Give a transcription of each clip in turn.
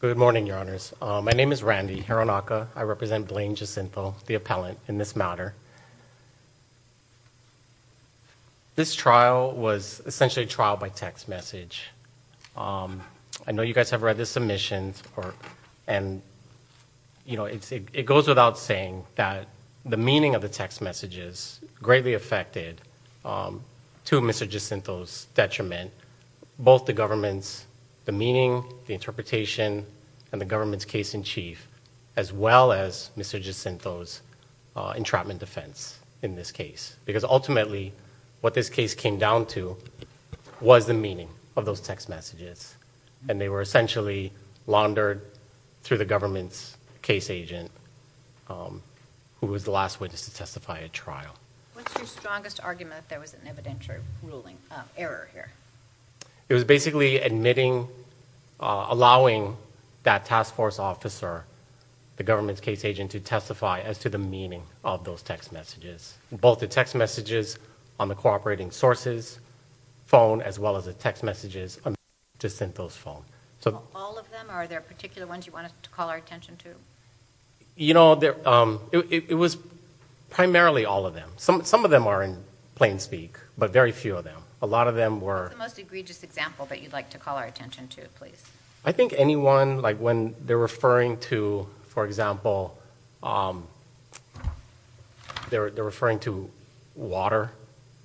Good morning, your honors. My name is Randy Hironaka. I represent Blaine Jacintho, the appellant in this matter. This trial was essentially a trial by text message. I know you guys have read the submissions and you know it goes without saying that the meaning of the text messages greatly affected to Mr. Jacinto's detriment, both the government's, the meaning, the interpretation, and the government's case-in-chief, as well as Mr. Jacinto's entrapment defense in this case. Because ultimately what this case came down to was the meaning of those text messages and they were essentially laundered through the government's case agent who was the last witness to testify at trial. What's your strongest argument there was an evidentiary ruling error here? It was basically admitting, allowing that task force officer, the government's case agent, to testify as to the meaning of those text messages. Both the text messages on the cooperating sources phone as well as the text messages to Jacinto's phone. All of them? Are there particular ones you wanted to call our attention to? You know, it was primarily all of them. Some of them are in plain speak, but very few of them. A lot of them were... What's the most egregious example that you'd like to call our attention to, please? I think anyone, like when they're referring to, for example, they're referring to water,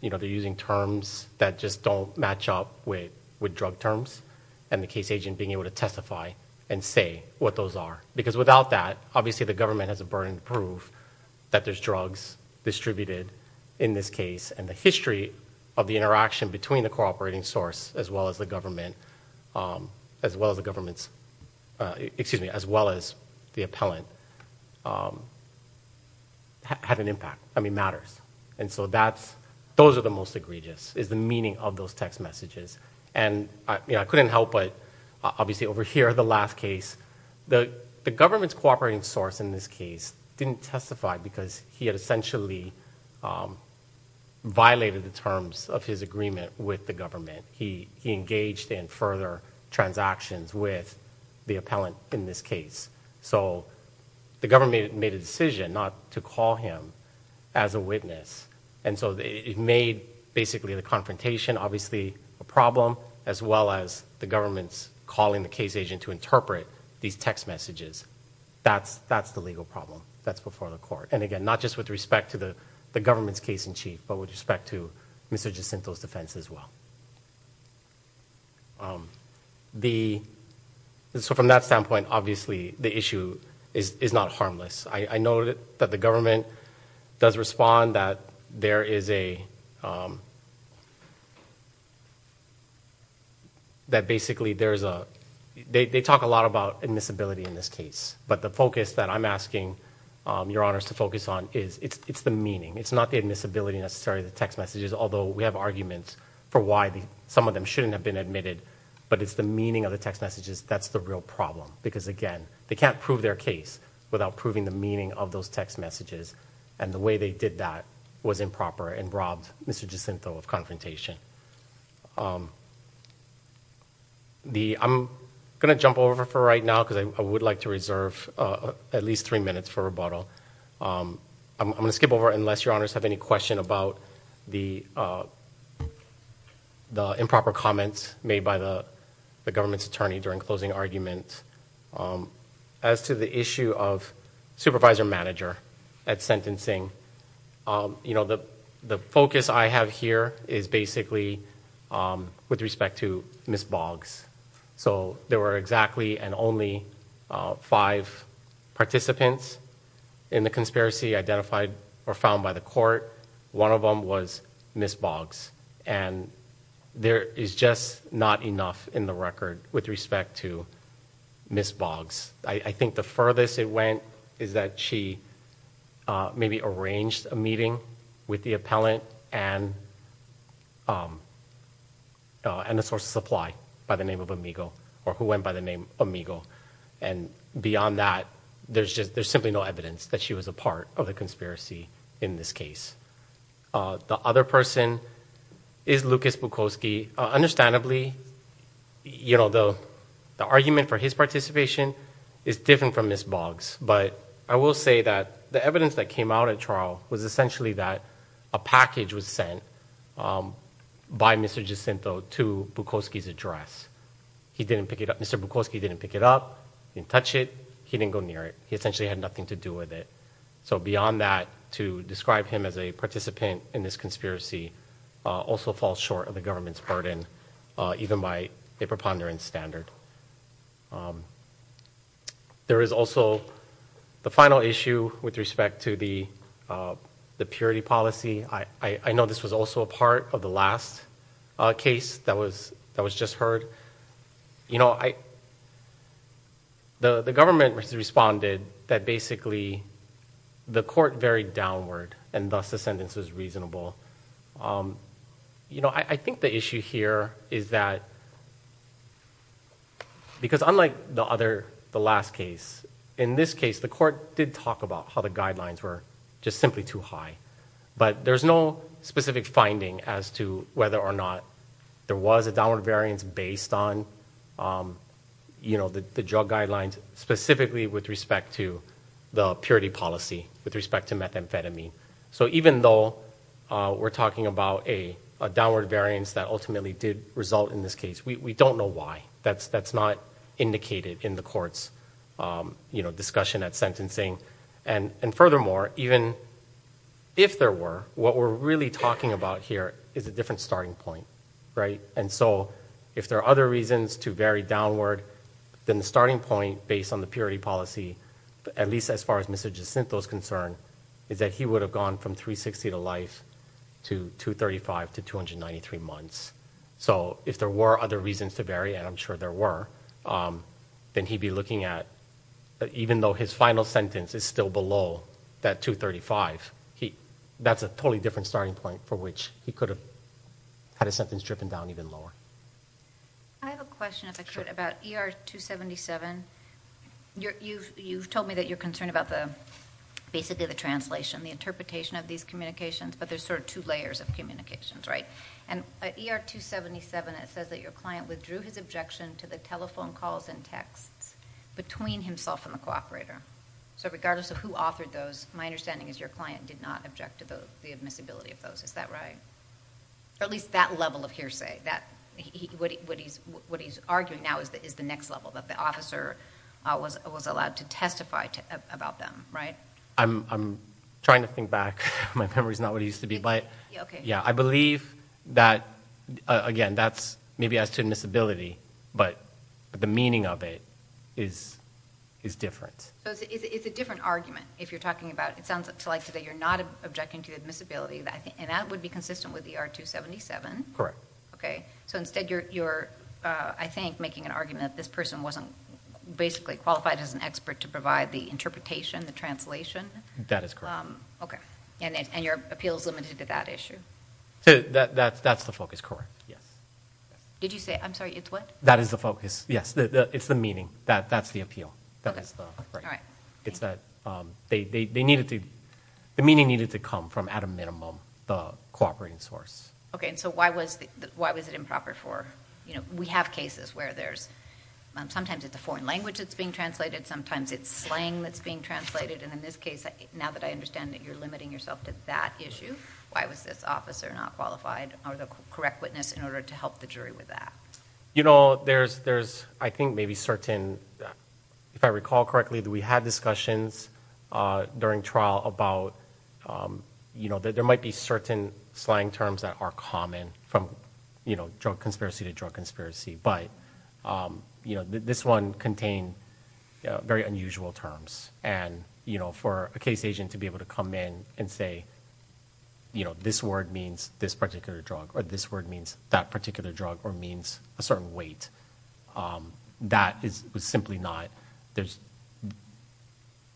you know, they're using terms that just don't match up with with drug terms and the case agent being able to testify and say what those are. Because without that, obviously the government has a burden to prove that there's drugs distributed in this case and the history of the interaction between the cooperating source as well as the government, as well as the government's, excuse me, as well as the appellant had an impact, I mean matters. And so that's, those are the most egregious, is the meaning of those text messages. And I couldn't help but obviously overhear the last case. The government's cooperating source in this case didn't testify because he had essentially violated the terms of his agreement with the government. He engaged in further transactions with the appellant in this case. So the government made a decision not to call him as a witness and so they made basically the confrontation, obviously a problem, as well as the government's calling the case agent to interpret these text messages. That's, that's the legal problem. That's before the court. And again, not just with respect to the government's case-in-chief, but with respect to Mr. Jacinto's defense as well. The, so from that standpoint, obviously the issue is not harmless. I know that the government does respond that there is a, that basically there's a, they talk a lot about admissibility in this case, but the focus that I'm asking your honors to focus on is, it's the meaning. It's not the admissibility necessarily of the text messages, although we have arguments for why some of them shouldn't have been admitted, but it's the meaning of the text messages that's the real problem. Because again, they can't prove their case without proving the meaning of those text messages and the way they did that was improper and robbed Mr. Jacinto of confrontation. The, I'm gonna jump over for right now because I would like to reserve at least three minutes for rebuttal. I'm gonna skip over unless your honors have any question about the, the improper comments made by the government's attorney during closing argument. As to the issue of supervisor manager at sentencing, you know, the, the focus I have here is basically with respect to Ms. Boggs. So there were exactly and only five participants in the conspiracy identified or found by the court. One of them was Ms. Boggs and there is just not enough in the record with respect to Ms. Boggs. I think the furthest it went is that she maybe arranged a meeting with the appellant and and a source of supply by the name of Amigo or who went by the name Amigo and beyond that, there's just, there's simply no evidence that she was a part of the conspiracy in this case. The other person is Lucas Bukowski. Understandably, you know, the, the argument for his participation is different from Ms. Boggs, but I will say that the evidence that came out at trial was essentially that a package was sent by Mr. Jacinto to Bukowski's address. He didn't pick it up, Mr. Bukowski didn't pick it up, didn't touch it, he didn't go near it. He essentially had nothing to do with it. So beyond that, to describe him as a participant in this conspiracy also falls short of the government's burden even by a preponderance standard. There is also the final issue with respect to the, the purity policy. I, I know this was also a part of the last case that was, that was just heard. You know, I, the, the government responded that basically the court varied downward and thus the sentence was reasonable. You know, I think the issue here is that, because unlike the other, the last case, in this case the court did talk about how the guidelines were just simply too high, but there's no specific finding as to whether or not there was a downward variance based on, you know, the drug guidelines, specifically with respect to the purity policy, with respect to methamphetamine. So even though we're talking about a downward variance that ultimately did result in this case, we don't know why. That's, that's not indicated in the court's, you know, discussion at sentencing. And, and furthermore, even if there were, what we're really talking about here is a different starting point, right? And so if there are other reasons to vary downward, then the starting point based on the purity policy, at least as far as Mr. Jacinto's concern, is that he would have gone from 360 to life to 235 to 293 months. So if there were other reasons to vary, and I'm sure there were, then he'd be looking at, even though his final sentence is still below that 235, he, that's a totally different starting point for which he could have had a sentence driven down even lower. I have a question, if I could, about ER 277. You, you've, you've told me that you're concerned about the, basically the translation, the interpretation of these communications, but there's sort of two layers of communications, right? And ER 277, it says that your client withdrew his objection to the telephone calls and texts between himself and the cooperator. So regardless of who authored those, my understanding is your client did not object to the, the admissibility of those, is that right? Or at least that level of hearsay, that he, what he, what he's, what he's arguing now is, is the next level, that the officer was, was allowed to testify to, about them, right? I'm, I'm trying to think back, my memory's not what it used to be, but, yeah, I believe that, again, that's maybe as to admissibility, but, but the meaning of it is, is different. So it's a different argument, if you're talking about, it sounds like today you're not objecting to the admissibility, and that would be consistent with ER 277. Correct. Okay, so instead you're, you're, I think, making an argument that this person wasn't basically qualified as an expert to provide the interpretation, the translation? That is correct. Okay, and, and your appeal is limited to that issue? So that, that, that's the focus, correct, yes. Did you say, I'm sorry, it's what? That is the focus, yes, it's the meaning, that, that's the appeal, that is the, right. It's that they, they, they needed to, the meaning needed to come from, at a minimum, the cooperating source. Okay, and so why was, why was it improper for, you know, we have cases where there's, sometimes it's foreign language that's being translated, sometimes it's slang that's being translated, and in this case, now that I understand that you're limiting yourself to that issue, why was this officer not qualified, or the correct witness, in order to help the jury with that? You know, there's, there's, I think, maybe certain, if I recall correctly, that we had discussions during trial about, you know, that there might be certain slang terms that are common from, you know, drug conspiracy to drug conspiracy, but, you know, this one contained very unusual terms, and, you know, for a case agent to be able to come in and say, you know, this word means this particular drug, or this word means that particular drug, or means a certain weight, that is simply not, there's,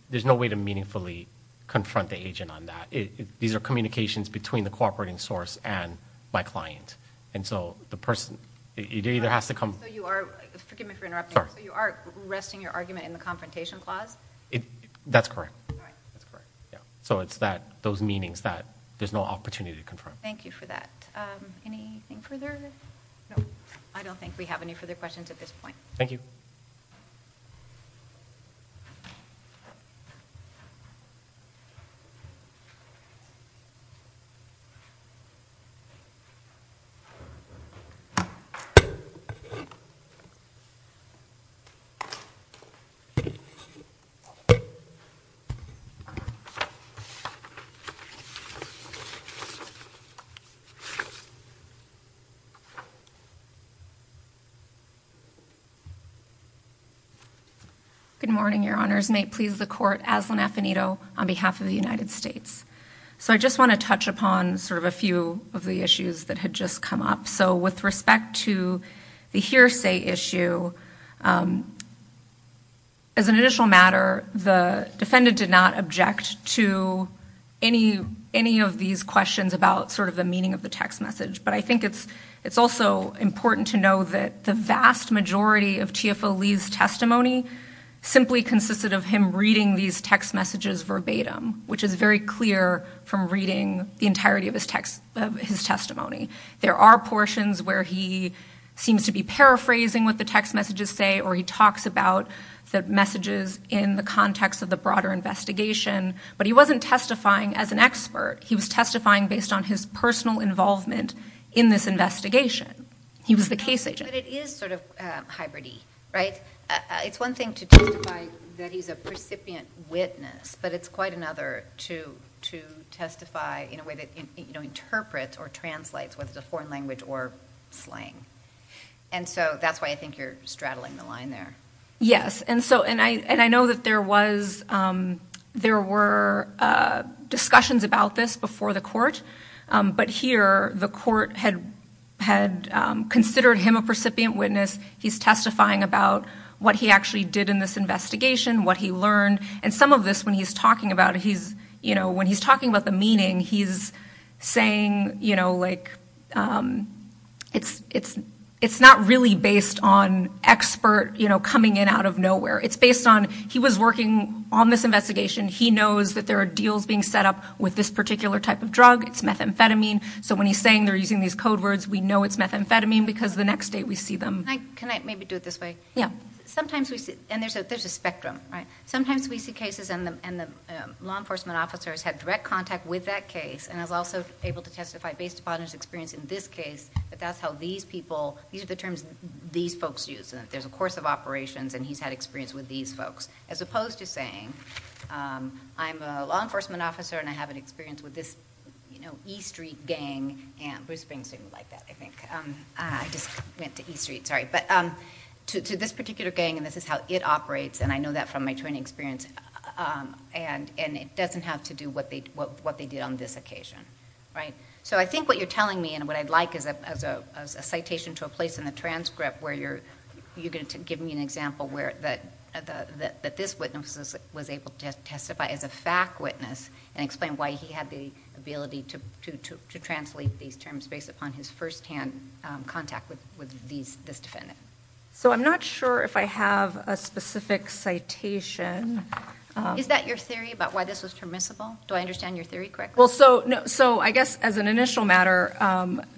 there's no way to meaningfully confront the agent on that. These are communications between the cooperating source and my client, and so the person, it either has to come. So you are, forgive me for interrupting, but you are resting your argument in the confrontation clause? That's correct, yeah, so it's that, those meanings that there's no opportunity to confirm. Thank you for that. Anything further? No, I don't think we have any further questions at this point. Thank you. Good morning, your honors. May it please the court, Aslan Affinito on behalf of the that had just come up. So with respect to the hearsay issue, as an additional matter, the defendant did not object to any, any of these questions about sort of the meaning of the text message, but I think it's, it's also important to know that the vast majority of TFO Lee's testimony simply consisted of him reading these text messages verbatim, which is very clear from reading the entirety of his text, of his testimony. There are portions where he seems to be paraphrasing what the text messages say, or he talks about the messages in the context of the broader investigation, but he wasn't testifying as an expert. He was testifying based on his personal involvement in this investigation. He was the case agent. But it is sort of hybrid-y, right? It's one thing to testify that he's a you know, interprets or translates with the foreign language or slang. And so that's why I think you're straddling the line there. Yes, and so, and I, and I know that there was, there were discussions about this before the court, but here the court had, had considered him a recipient witness. He's testifying about what he actually did in this investigation, what he learned, and some of this when he's talking about he's, you know, when he's talking about the meaning, he's saying, you know, like, it's, it's, it's not really based on expert, you know, coming in out of nowhere. It's based on he was working on this investigation. He knows that there are deals being set up with this particular type of drug. It's methamphetamine. So when he's saying they're using these code words, we know it's methamphetamine because the next day we see them. Can I, can I maybe do it this way? Yeah. Sometimes we see, and there's a, there's a spectrum, right? Sometimes we see cases and the, and the law enforcement officers had direct contact with that case and is also able to testify based upon his experience in this case, but that's how these people, these are the terms these folks use. There's a course of operations and he's had experience with these folks. As opposed to saying, I'm a law enforcement officer and I have an experience with this, you know, E Street gang and Bruce Springs didn't like that, I think. I just went to E Street, sorry, but to, to this particular gang and this is how it operates and I know that from my training experience and, and it doesn't have to do what they, what they did on this occasion, right? So I think what you're telling me and what I'd like is a, as a citation to a place in the transcript where you're, you're going to give me an example where that, that, that this witness was able to testify as a fact witness and explain why he had the ability to, to, to translate these terms based upon his firsthand contact with, with these, this citation. Is that your theory about why this was permissible? Do I understand your theory correctly? Well, so, so I guess as an initial matter,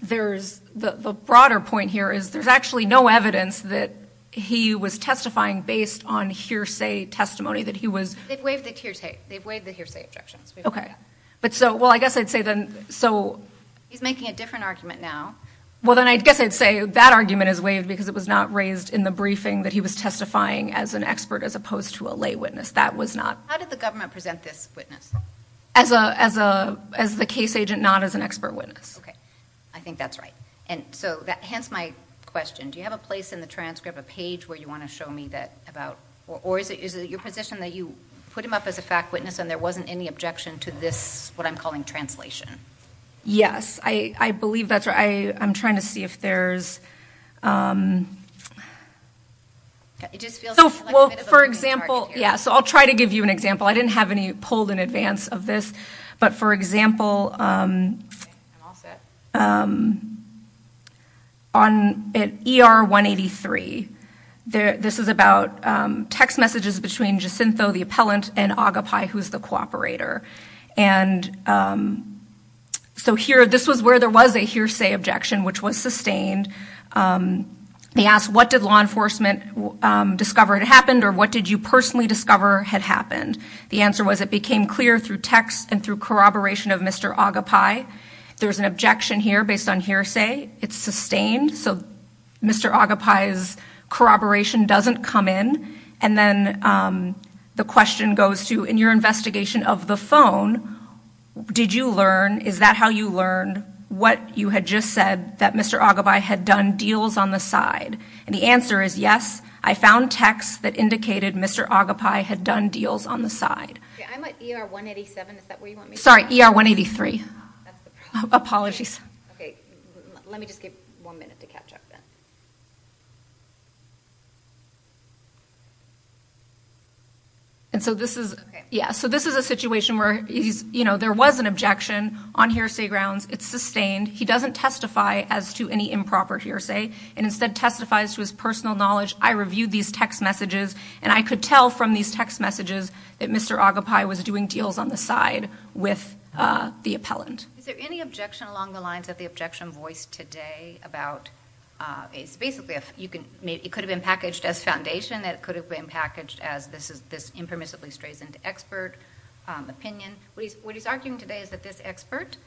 there's, the, the broader point here is there's actually no evidence that he was testifying based on hearsay testimony, that he was. They've waived the hearsay, they've waived the hearsay objections. Okay, but so, well I guess I'd say then, so. He's making a different argument now. Well then I guess I'd say that argument is waived because it was not raised in the briefing that he was testifying as an expert as opposed to a lay witness. That was not. How did the government present this witness? As a, as a, as the case agent, not as an expert witness. Okay, I think that's right. And so that, hence my question. Do you have a place in the transcript, a page where you want to show me that about, or is it, is it your position that you put him up as a fact witness and there wasn't any objection to this, what I'm calling translation? Yes, I, I believe that's right. I, I'm trying to see if there's, well for example, yeah, so I'll try to give you an example. I didn't have any polled in advance of this, but for example, on, at ER 183, there, this is about text messages between Jacinto, the appellant, and Agapai, who's the cooperator. And so here, this was where there was a hearsay objection, which was sustained. They asked what did law enforcement discover had happened or what did you personally discover had happened? The answer was it became clear through text and through corroboration of Mr. Agapai. There's an objection here based on hearsay. It's sustained. So Mr. Agapai's corroboration doesn't come in. And then the question goes to, in your investigation of the phone, did you learn, is that how you learned what you had just said that Mr. Agapai had done deals on the side? And the answer is yes, I found text that indicated Mr. Agapai had done deals on the side. Sorry, ER 183. Apologies. And so this is, yeah, so this is a situation where he's, you know, there was an objection on hearsay grounds. It's sustained. He doesn't testify as to any improper hearsay and instead testifies to his personal knowledge. I reviewed these text messages and I could tell from these text messages that Mr. Agapai was doing deals on the side with the appellant. Is there any objection along the lines of the objection voiced today about... it's basically, it could have been packaged as foundation, it could have been packaged as this impermissibly strays into expert opinion. What he's arguing today is that this expert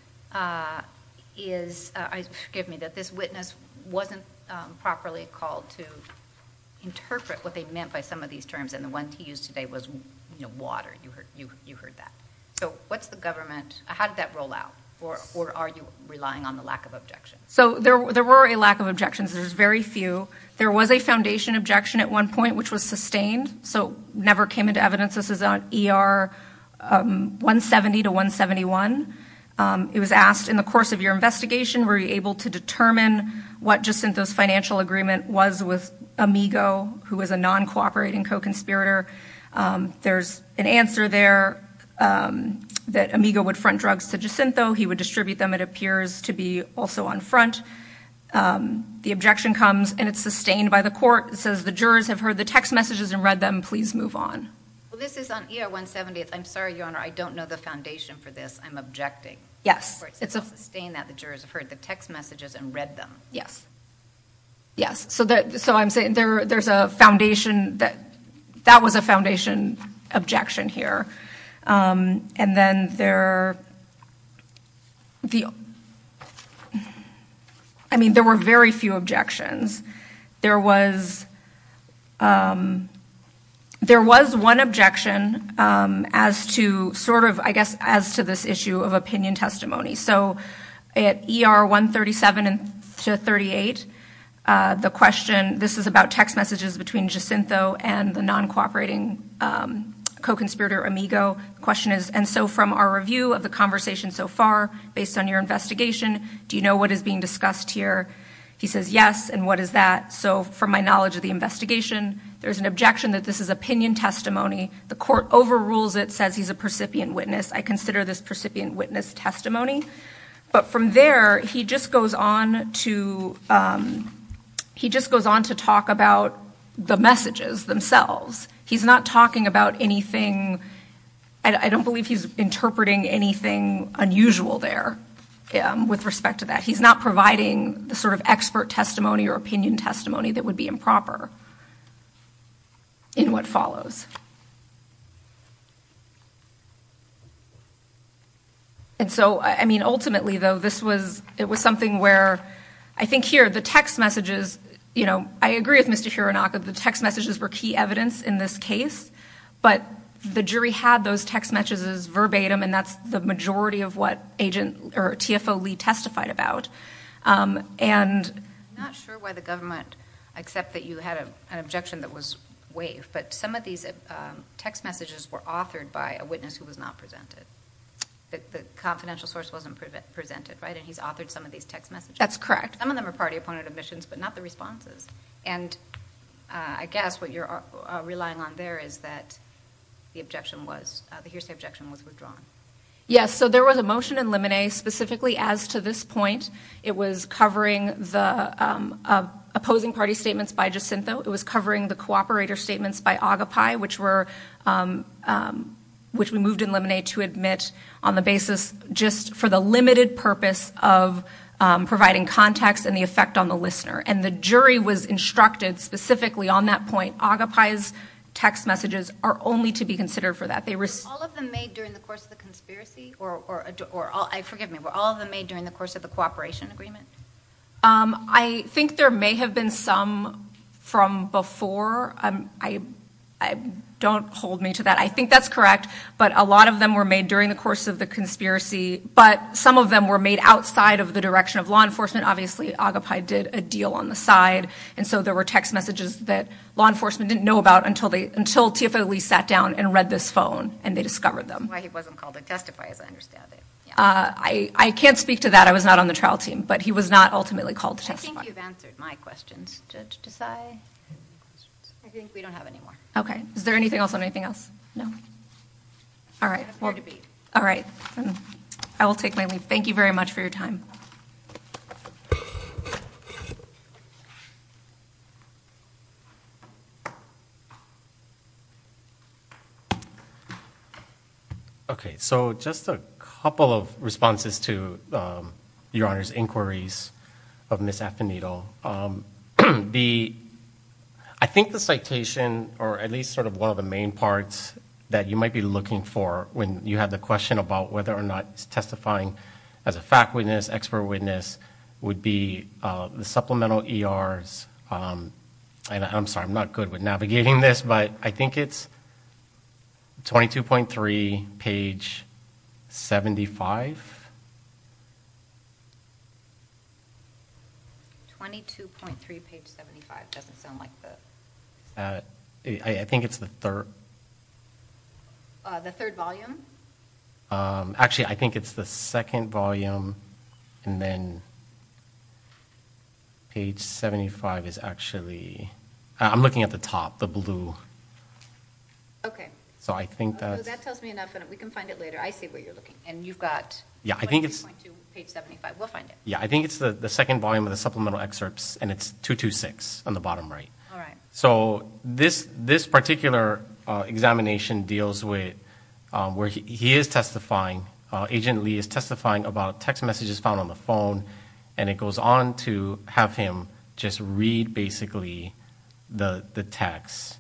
is... forgive me, that this witness wasn't properly called to interpret what they meant by some of these terms and the one he used today was water. You heard that. So what's the government... how did that roll out or are you relying on the lack of objections? So there were a lack of objections. There's very few. There was a foundation objection at one point which was sustained, so never came into evidence. This is on ER 170 to 171. It was asked in the course of your investigation, were you able to determine what Jacinto's financial agreement was with Amigo, who is a non-cooperating co-conspirator. There's an answer there that Amigo would front drugs to Jacinto. He would distribute them. It appears to be also on front. The objection comes and it's sustained by the court. It says the jurors have heard the text messages and read them. Please move on. This is on ER 170. I'm sorry, Your Honor, I don't know the foundation for this. I'm objecting. Yes. It's a stain that the jurors have heard the text messages and read them. Yes. Yes. So that... so I'm saying there there's a foundation that... objection here. And then there... I mean there were very few objections. There was... there was one objection as to sort of, I guess, as to this issue of opinion testimony. So at ER 137 to 38, the question... this is about text messages between Jacinto and the non-cooperating co-conspirator Amigo. The question is... and so from our review of the conversation so far, based on your investigation, do you know what is being discussed here? He says yes. And what is that? So from my knowledge of the investigation, there's an objection that this is opinion testimony. The court overrules it, says he's a percipient witness. I consider this percipient witness testimony. But from there, he just goes on to... he just goes on to talk about the messages themselves. He's not talking about anything... I don't believe he's interpreting anything unusual there with respect to that. He's not providing the sort of expert testimony or opinion testimony that would be improper in what follows. And so, I mean, ultimately though, this was... it was something where I think here, the text messages... you know, I agree with Mr. Hironaka, the text messages were key evidence in this case. But the jury had those text messages verbatim, and that's the majority of what agent... or TFO Lee testified about. And... I'm not sure why the government accept that you had an objection that was waived. But some of these text messages were authored by a witness who was not presented. The confidential source wasn't presented, right? And he's authored some of these text messages. That's correct. Some of them are party-opponent admissions, but not the responses. And I guess what you're relying on there is that the objection was... the hearsay objection was withdrawn. Yes, so there was a motion in Lemonet specifically as to this point. It was covering the opposing party statements by Jacinto. It was covering the cooperator statements by Agapay, which were... which we moved in Lemonet to admit on the basis just for the limited purpose of providing context and the effect on the listener. And the jury was instructed specifically on that point, Agapay's text messages are only to be considered for that. They were... All of them made during the course of the conspiracy? Or... forgive me, were all of them made during the course of the operation agreement? I think there may have been some from before. I don't hold me to that. I think that's correct, but a lot of them were made during the course of the conspiracy, but some of them were made outside of the direction of law enforcement. Obviously Agapay did a deal on the side, and so there were text messages that law enforcement didn't know about until they... until TFO Lee sat down and read this phone and they discovered them. That's why he wasn't called to the trial team, but he was not ultimately called to testify. I think you've answered my questions, Judge Desai. I think we don't have any more. Okay. Is there anything else on anything else? No. All right. I will take my leave. Thank you very much for your time. Okay. So just a couple of responses to Your Honor's inquiries of Ms. Afinito. The... I think the citation, or at least sort of one of the main parts that you might be looking for when you have the question about whether or not testifying as a fact witness, expert witness, would be the supplemental ERs... and I'm sorry, I'm not good with navigating this, but I think it's 22.3 page 75... 22.3 page 75... doesn't sound like the... I think it's the third... the third volume? Actually, I think it's the second volume and then page 75 is actually... I'm looking at the top, the blue. Okay. So I think that's... That tells me enough and we can find it later. I see where you're looking and you've got 22.2 page 75. We'll find it. Yeah, I think it's the second volume of the supplemental excerpts and it's 226 on the bottom right. All right. So this particular examination deals with... where he is testifying. Agent Lee is testifying about text messages found on the phone and it goes on to have him just read basically the text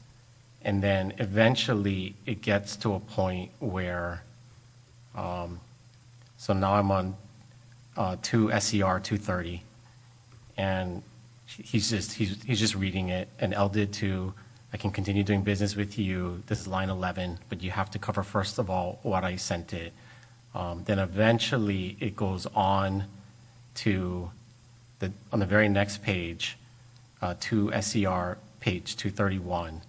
and then eventually it gets to a point where... So now I'm on... to SCR 230 and he's just... he's just reading it and L did too. I can continue doing business with you. This is line 11, but you have to cover first of all what I sent it. Then eventually it goes on to the... on the very next page to SCR page 231......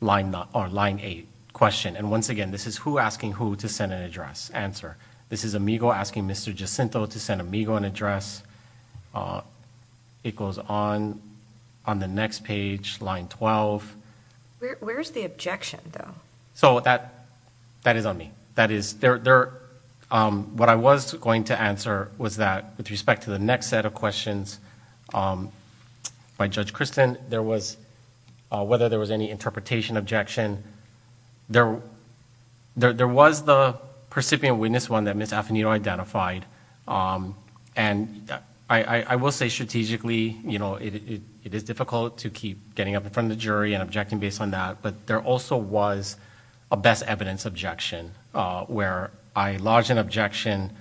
line 8 question. And once again, this is who asking who to send an address answer. This is Amigo asking Mr. Jacinto to send Amigo an address. It goes on... on the next page, line 12. Where's the objection though? So that... that is on me. That is... there... there... what I was going to answer was that with respect to the next set of questions by Judge Christin, there was... whether there was any interpretation objection. There... there... there was the percipient witness one that Ms. Afinito identified and I... I... I will say strategically, you know, it... it... it is difficult to keep getting up in front of the jury and objecting based on that. But there also was a best evidence objection where I lodged an objection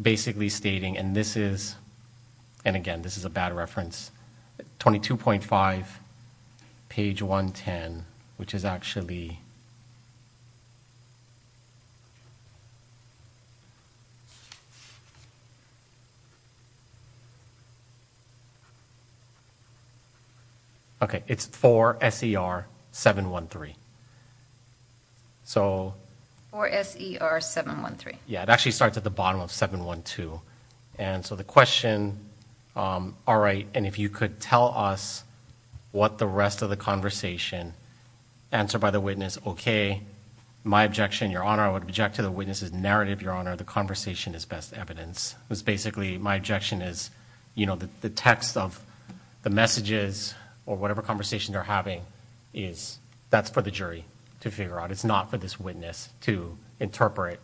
basically stating... and this is... and again, this is a bad reference... 22.5 page 110 which is actually... Okay, it's 4SER713. So... 4SER713. Yeah, it actually starts at the bottom of 712. And so the question... all right, and if you could tell us what the rest of the conversation answered by the witness. Okay, my objection, Your Honor, I would object to the witness's narrative, Your Honor, the conversation is best evidence. It was basically my objection is, you know, the text of the messages or whatever conversation they're having is... that's for the jury to figure out. It's not for this witness to interpret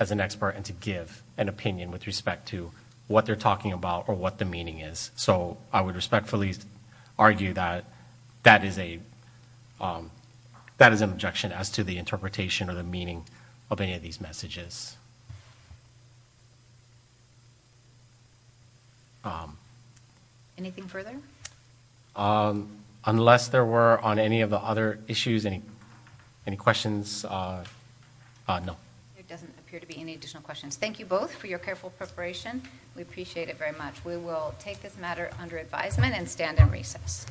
as an expert and to give an opinion with respect to what they're talking about or what the meaning is. So, I would respectfully argue that that is a... that is an objection as to the interpretation or the meaning of any of these messages. Anything further? Unless there were on any of the other issues... any questions? No. There doesn't appear to be any additional questions. Thank you both for your careful preparation. We appreciate it very much. We will take this matter under advisement and stand in recess.